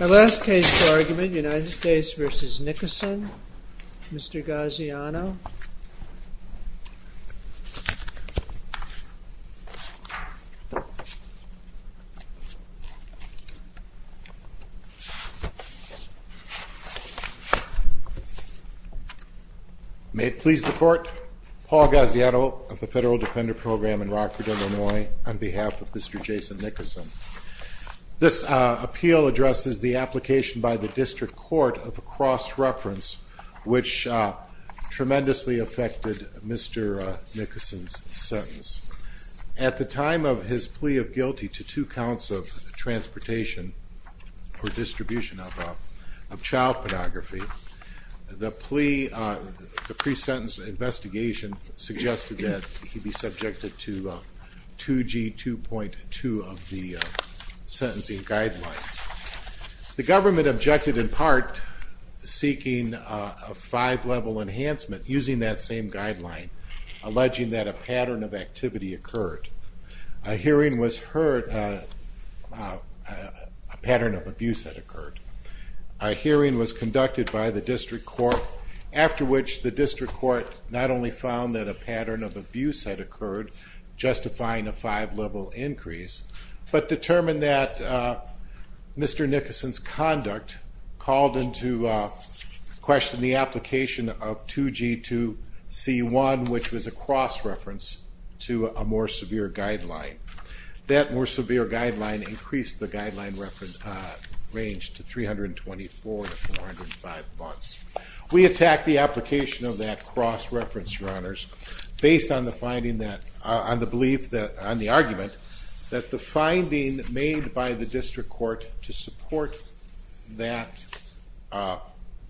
Our last case for argument, United States v. Nicoson, Mr. Gaziano. May it please the Court, Paul Gaziano of the Federal Defender Program in Rockford, Illinois, on behalf of Mr. Jason Nicoson. This appeal addresses the application by the District Court of a cross-reference which tremendously affected Mr. Nicoson's sentence. At the time of his plea of guilty to two counts of transportation for distribution of child pornography, the pre-sentence investigation suggested that he be subjected to 2G 2.2 of the sentencing guidelines. The government objected in part seeking a five-level enhancement using that same guideline, alleging that a pattern of activity occurred. A hearing was heard, a pattern of abuse had occurred. A hearing was conducted by the District Court, after which the District Court not only found that a pattern of abuse had occurred, justifying a five-level increase, but determined that Mr. Nicoson's conduct called into question the application of 2G 2.C. 1, which was a cross-reference to a more severe guideline. That more severe guideline increased the guideline range to 324 to 405 months. We attack the application of that cross-reference, Your Honors, based on the belief, on the argument, that the finding made by the District Court to support that application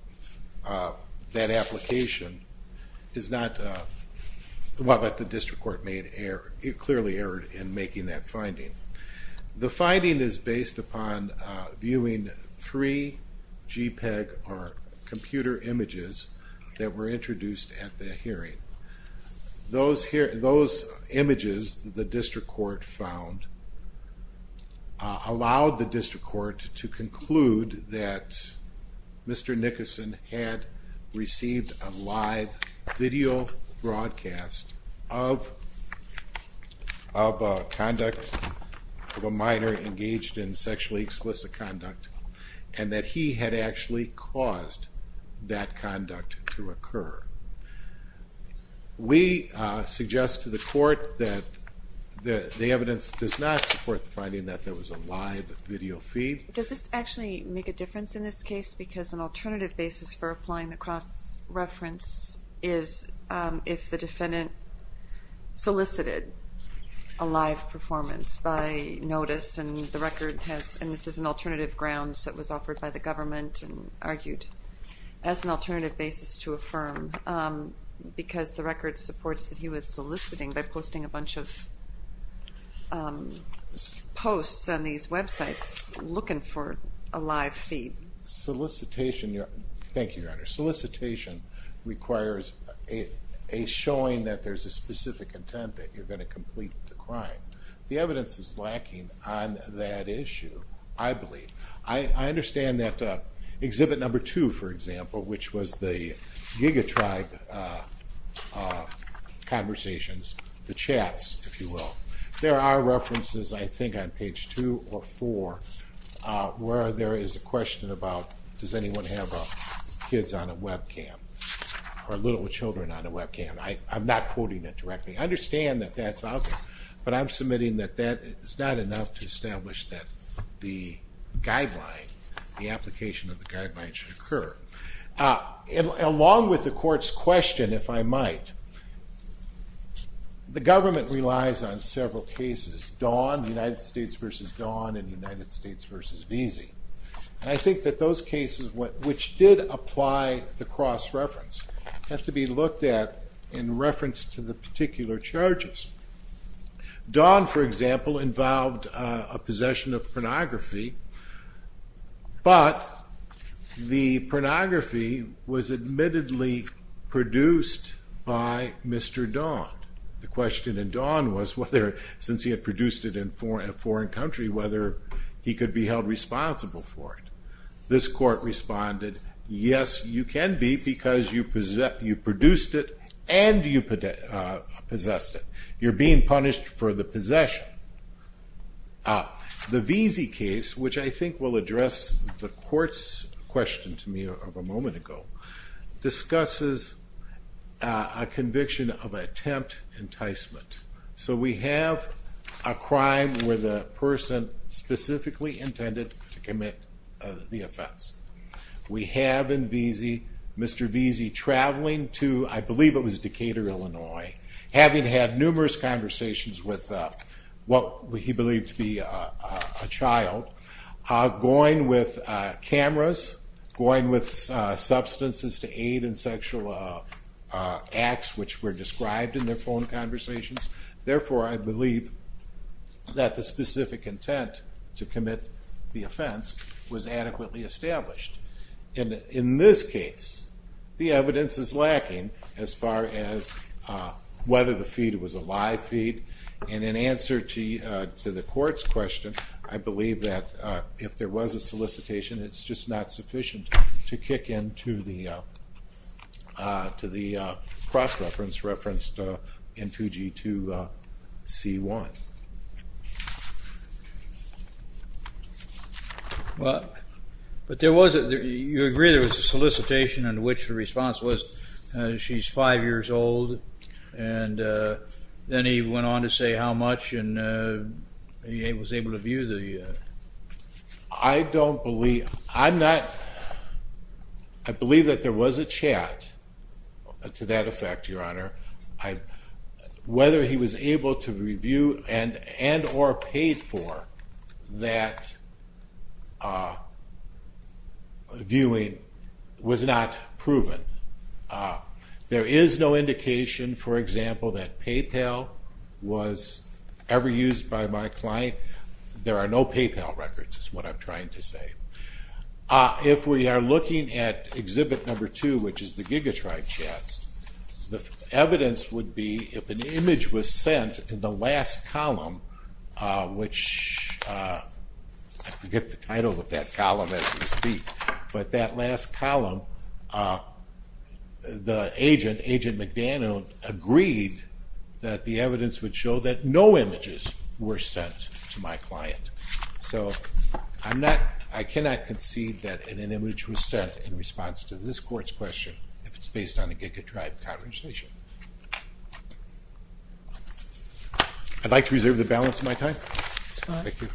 clearly erred in making that finding. The finding is based upon viewing three JPEG or computer images that were introduced at the hearing. Those images the District Court found allowed the District Court to conclude that Mr. Nicoson had received a live video broadcast of conduct of a minor engaged in sexually explicit conduct, and that he had actually caused that conduct to occur. We suggest to the Court that the evidence does not support the finding that there was a live video feed. Does this actually make a difference in this case, because an alternative basis for applying the cross-reference is if the defendant solicited a live performance by notice, and the record has, and this is an alternative grounds that was offered by the government and argued as an alternative basis to affirm, because the record supports that he was soliciting by posting a bunch of posts on these websites looking for a live feed. Solicitation, thank you, Your Honor. Solicitation requires a showing that there's a specific intent that you're going to complete the crime. The evidence is lacking on that issue, I believe. I understand that exhibit number two, for example, which was the Giga Tribe conversations, the chats, if you will, there are references I think on page two or four where there is a question about does anyone have kids on a webcam, or little children on a webcam. I'm not quoting it directly. I understand that that's out there, but I'm submitting that that is not enough to establish that the guideline, the application of the guideline should occur. Along with the court's question, if I might, the government relies on several cases, Dawn, United States v. Dawn, and United States v. Veazey. I think that those cases which did apply the cross-reference have to be looked at in reference to the particular charges. Dawn, for example, involved a possession of pornography, but the pornography was admittedly produced by Mr. Dawn. The question in Dawn was, since he had produced it in a foreign country, whether he could be held responsible for it. This court responded, yes, you can be because you produced it and you possessed it. You're being punished for the possession. The Veazey case, which I think will address the court's question to me of a moment ago, discusses a conviction of attempt enticement. So we have a crime where the person specifically intended to commit the offense. We have in Veazey, Mr. Veazey traveling to, I believe it was Decatur, Illinois, having had numerous conversations with what he believed to be a child, going with cameras, going with substances to aid in sexual acts which were described in their phone conversations. Therefore, I believe that the specific intent to commit the offense was adequately established. In this case, the evidence is lacking as far as whether the feed was a live feed. And in answer to the court's question, I believe that if there was a solicitation, it's just not sufficient to kick into the cross-reference referenced in 2G2C1. Well, but there was, you agree there was a solicitation in which the response was she's five years old and then he went on to say how much and he was able to view the... I don't believe, I'm not, I believe that there was a chat to that effect, Your Honor. Whether he was able to review and or paid for that viewing was not proven. There is no indication, for example, that PayPal was ever used by my client. There are no PayPal records is what I'm trying to say. If we are looking at exhibit number two, which is the gigatribe chats, the evidence would be if an image was sent in the last column, which I forget the title of that column as we speak, but that last column, the agent, Agent McDaniel, agreed that the evidence would show that no images were sent to my client. So I'm not, I cannot concede that an image was sent in response to this court's question if it's based on a gigatribe conversation. I'd like to reserve the balance of my time. Thank you.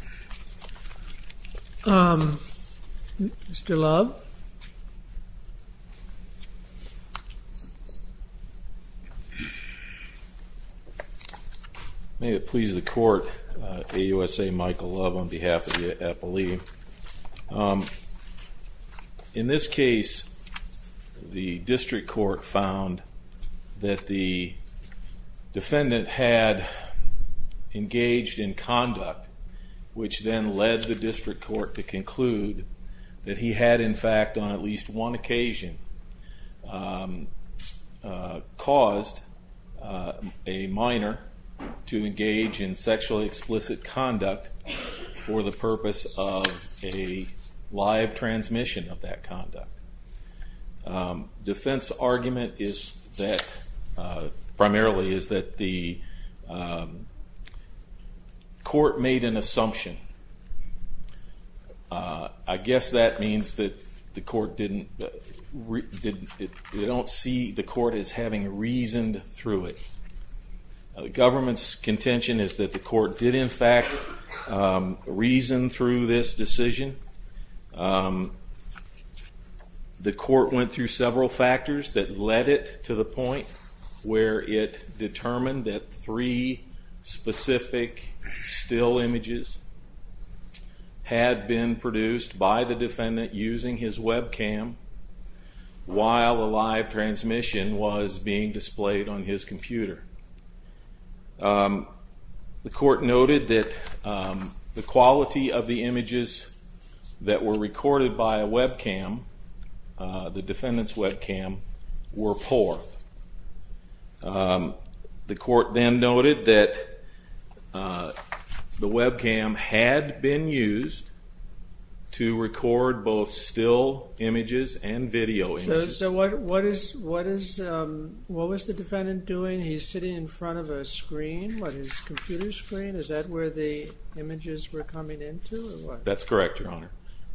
Mr. Love? May it please the court, AUSA Michael Love on behalf of the appellee. Thank you. In this case, the district court found that the defendant had engaged in conduct, which then led the district court to conclude that he had, in fact, on at least one occasion, caused a minor to engage in sexually explicit conduct for the purpose of a live transmission of that conduct. Defense argument is that, primarily, is that the court made an assumption. I guess that means that the court didn't, they don't see the court as having reasoned through it. The government's contention is that the court did, in fact, reason through this decision. The court went through several factors that led it to the point where it determined that three specific still images had been produced by the defendant using his Webcam while a live transmission was being displayed on his computer. The court noted that the quality of the images that were recorded by a Webcam, the defendant's Webcam, were poor. The court then noted that the Webcam had been used to record both still images and video images. So what was the defendant doing? He's sitting in front of a screen, a computer screen. Is that where the images were coming into? That's correct, Your Honor.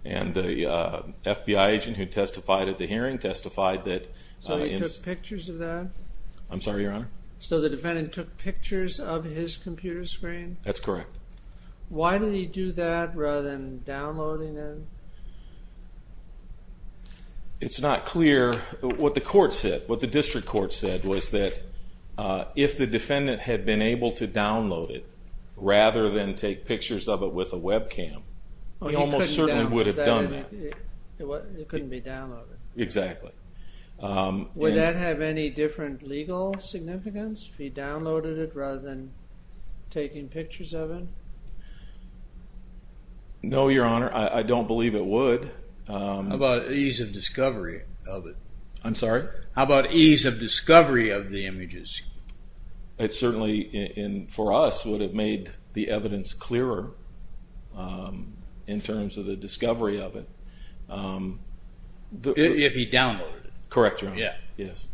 And the FBI agent who testified at the hearing testified that... So he took pictures of that? I'm sorry, Your Honor? So the defendant took pictures of his computer screen? That's correct. Why did he do that rather than downloading them? It's not clear. What the court said, what the district court said, was that if the defendant had been able to download it he almost certainly would have done that. It couldn't be downloaded. Exactly. Would that have any different legal significance if he downloaded it rather than taking pictures of it? No, Your Honor, I don't believe it would. How about ease of discovery of it? I'm sorry? How about ease of discovery of the images? It certainly, for us, would have made the evidence clearer in terms of the discovery of it. If he downloaded it. Correct, Your Honor. Yeah. Yes.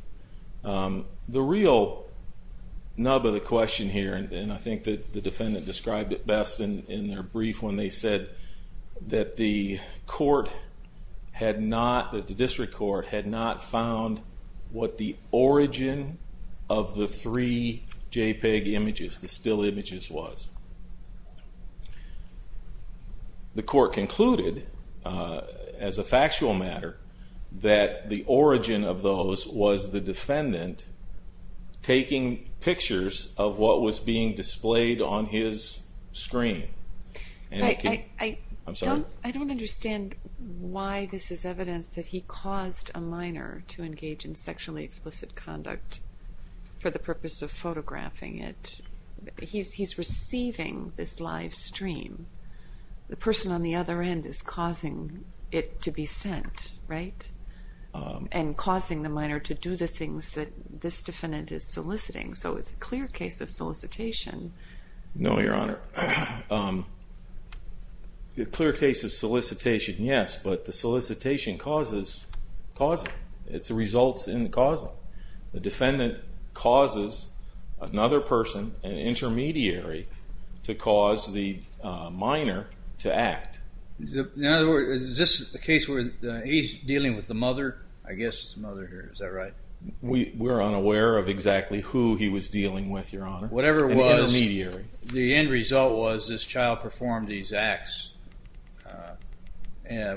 The real nub of the question here, and I think the defendant described it best in their brief when they said that the court had not, that the district court had not found what the origin of the three JPEG images, the still images, was. The court concluded, as a factual matter, that the origin of those was the defendant taking pictures of what was being displayed on his screen. I don't understand why this is evidence that he caused a minor to engage in sexually explicit conduct for the purpose of photographing it. He's receiving this live stream. The person on the other end is causing it to be sent, right? And causing the minor to do the things that this defendant is soliciting, so it's a clear case of solicitation. No, Your Honor. A clear case of solicitation, yes, but the solicitation causes it. It's the results in the causing. The defendant causes another person, an intermediary, to cause the minor to act. In other words, is this a case where he's dealing with the mother? I guess it's the mother here. Is that right? We're unaware of exactly who he was dealing with, Your Honor. An intermediary. The end result was this child performed these acts,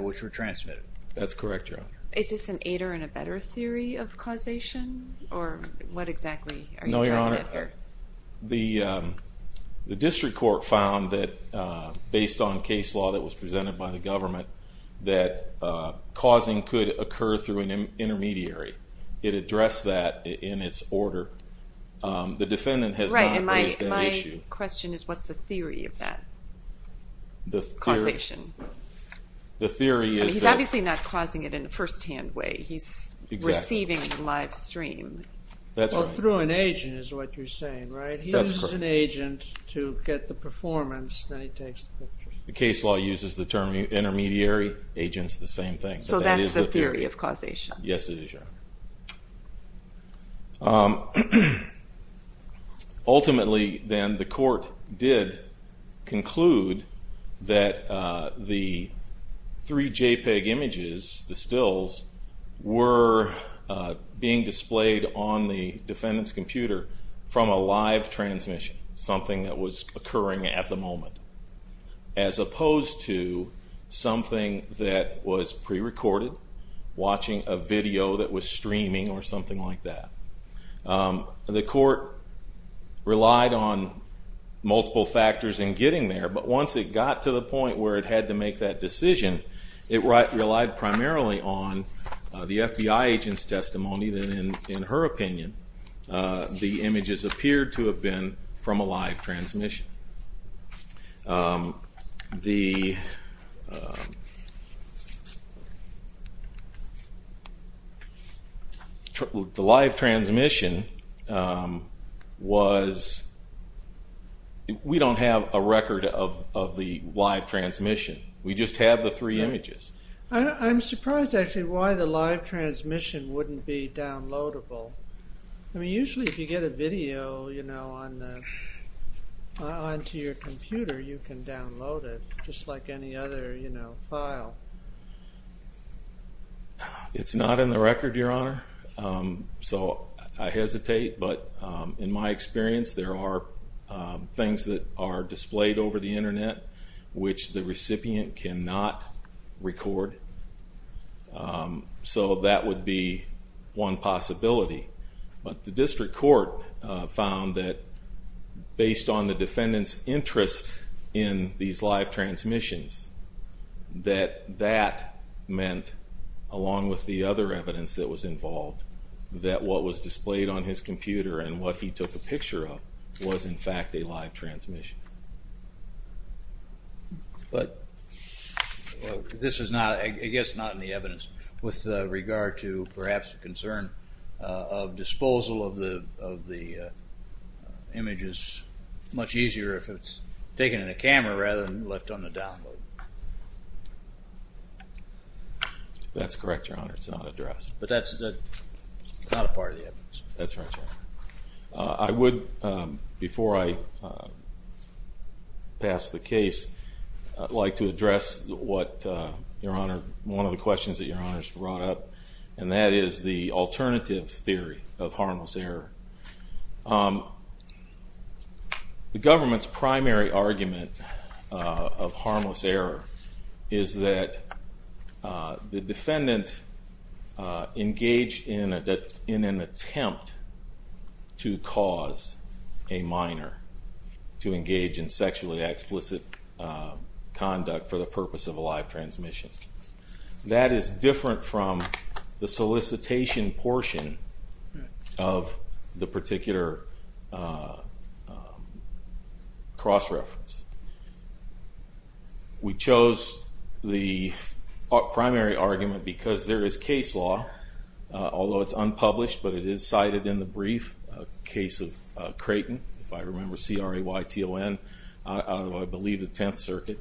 which were transmitted. That's correct, Your Honor. Is this an aider-in-a-bedder theory of causation, or what exactly are you talking about here? No, Your Honor. The district court found that, based on case law that was presented by the government, that causing could occur through an intermediary. It addressed that in its order. The defendant has not raised that issue. Right, and my question is, what's the theory of that causation? The theory is that- He's obviously not causing it in a firsthand way. He's receiving it live stream. Well, through an agent is what you're saying, right? He uses an agent to get the performance, then he takes the picture. The case law uses the term intermediary, agent's the same thing. So that's the theory of causation. Yes, it is, Your Honor. Ultimately, then, the court did conclude that the three JPEG images, the stills, were being displayed on the defendant's computer from a live transmission, something that was occurring at the moment, as opposed to something that was prerecorded, watching a video that was streaming or something like that. The court relied on multiple factors in getting there, but once it got to the point where it had to make that decision, it relied primarily on the FBI agent's testimony, and in her opinion, the images appeared to have been from a live transmission. The live transmission was- We don't have a record of the live transmission. We just have the three images. I'm surprised, actually, why the live transmission wouldn't be downloadable. I mean, usually if you get a video onto your computer, you can download it, just like any other file. It's not in the record, Your Honor, so I hesitate, but in my experience, there are things that are displayed over the Internet which the recipient cannot record, so that would be one possibility. But the district court found that based on the defendant's interest in these live transmissions, that that meant, along with the other evidence that was involved, that what was displayed on his computer and what he took a picture of was, in fact, a live transmission. But this is, I guess, not in the evidence. With regard to perhaps the concern of disposal of the images, it's much easier if it's taken in a camera rather than left on the download. That's correct, Your Honor. It's not addressed. But that's not a part of the evidence. That's right, Your Honor. I would, before I pass the case, like to address one of the questions that Your Honor has brought up, and that is the alternative theory of harmless error. The government's primary argument of harmless error is that the defendant engaged in an attempt to cause a minor to engage in sexually explicit conduct for the purpose of a live transmission. That is different from the solicitation portion of the particular cross-reference. We chose the primary argument because there is case law, although it's unpublished, but it is cited in the brief case of Creighton, if I remember, C-R-A-Y-T-O-N, out of, I believe, the Tenth Circuit.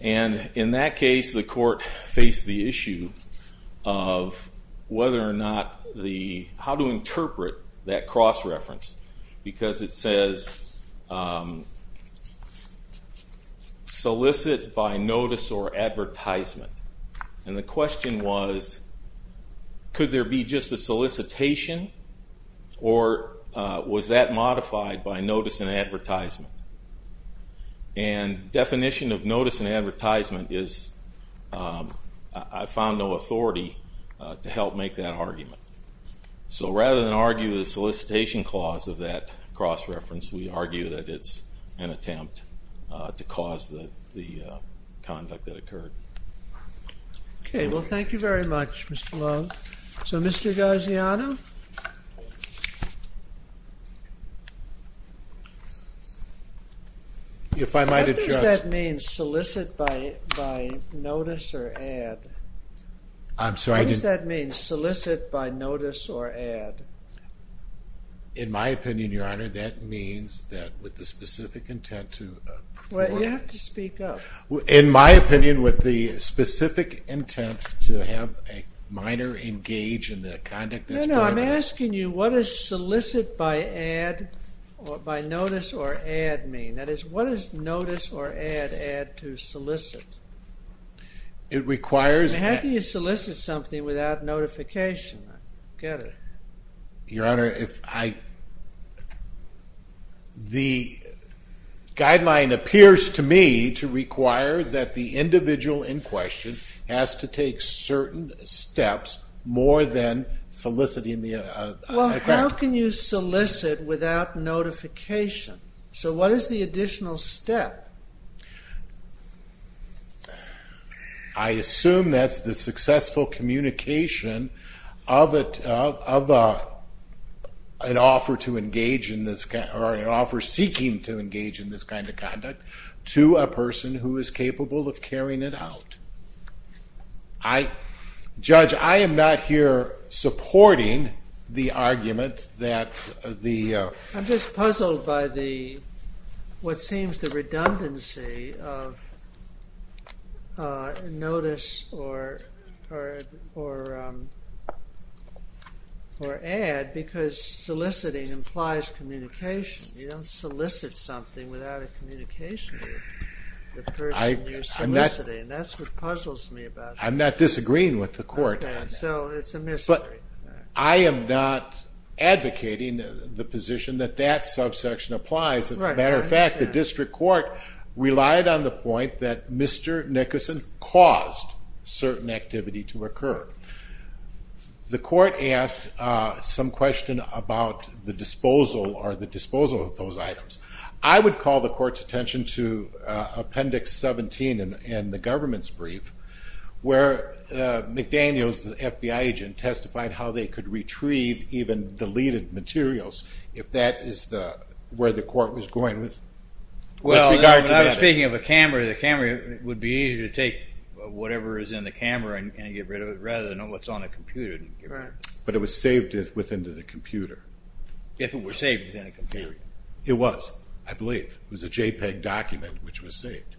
And in that case, the court faced the issue of whether or not the... how to interpret that cross-reference, because it says solicit by notice or advertisement. And the question was, could there be just a solicitation, or was that modified by notice and advertisement? And the definition of notice and advertisement is, so rather than argue the solicitation clause of that cross-reference, we argue that it's an attempt to cause the conduct that occurred. Okay, well, thank you very much, Mr. Lowe. So, Mr. Gaziano? What does that mean, solicit by notice or ad? I'm sorry, I didn't... What does that mean, solicit by notice or ad? In my opinion, Your Honor, that means that with the specific intent to... Well, you have to speak up. In my opinion, with the specific intent to have a minor engage in the conduct... No, no, I'm asking you, what does solicit by notice or ad mean? That is, what does notice or ad add to solicit? It requires... How can you solicit something without notification? I don't get it. Your Honor, if I... The guideline appears to me to require that the individual in question has to take certain steps more than soliciting the... Well, how can you solicit without notification? So, what is the additional step? I assume that's the successful communication of an offer to engage in this... or an offer seeking to engage in this kind of conduct to a person who is capable of carrying it out. I... Judge, I am not here supporting the argument that the... I'm just puzzled by what seems the redundancy of notice or ad because soliciting implies communication. You don't solicit something without a communication with the person you're soliciting. That's what puzzles me about it. I'm not disagreeing with the court on that. So, it's a mystery. I am not advocating the position that that subsection applies. As a matter of fact, the district court relied on the point that Mr. Nickerson caused certain activity to occur. The court asked some question about the disposal or the disposal of those items. I would call the court's attention to Appendix 17 in the government's brief where McDaniels, the FBI agent, testified how they could retrieve even deleted materials if that is where the court was going with regard to that. Well, I was speaking of a camera. The camera would be easier to take whatever is in the camera and get rid of it rather than what's on a computer. But it was saved within the computer. If it were saved within a computer. It was, I believe. It was a JPEG document which was saved.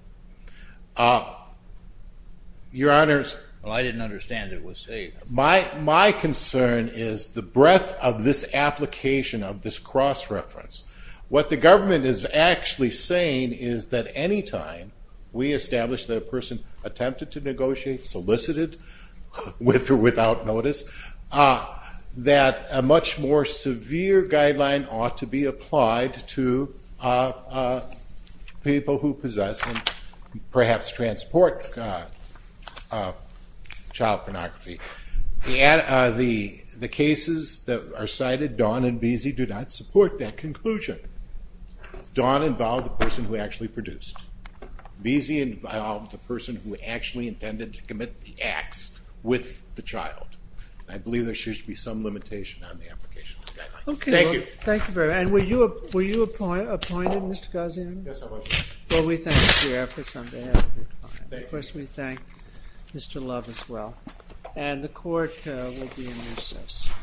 Your Honors. Well, I didn't understand it was saved. My concern is the breadth of this application of this cross-reference. What the government is actually saying is that anytime we establish that a person attempted to negotiate, solicited, with or without notice, that a much more severe guideline ought to be applied to people who possess and perhaps transport child pornography. The cases that are cited, Dawn and Beese, do not support that conclusion. Dawn involved the person who actually produced. Beese involved the person who actually intended to commit the acts with the child. I believe there should be some limitation on the application of the guideline. Thank you. Thank you very much. And were you appointed, Mr. Gaziano? Yes, I was. Well, we thank you for your efforts on behalf of your client. Of course, we thank Mr. Love as well. And the Court will be in recess.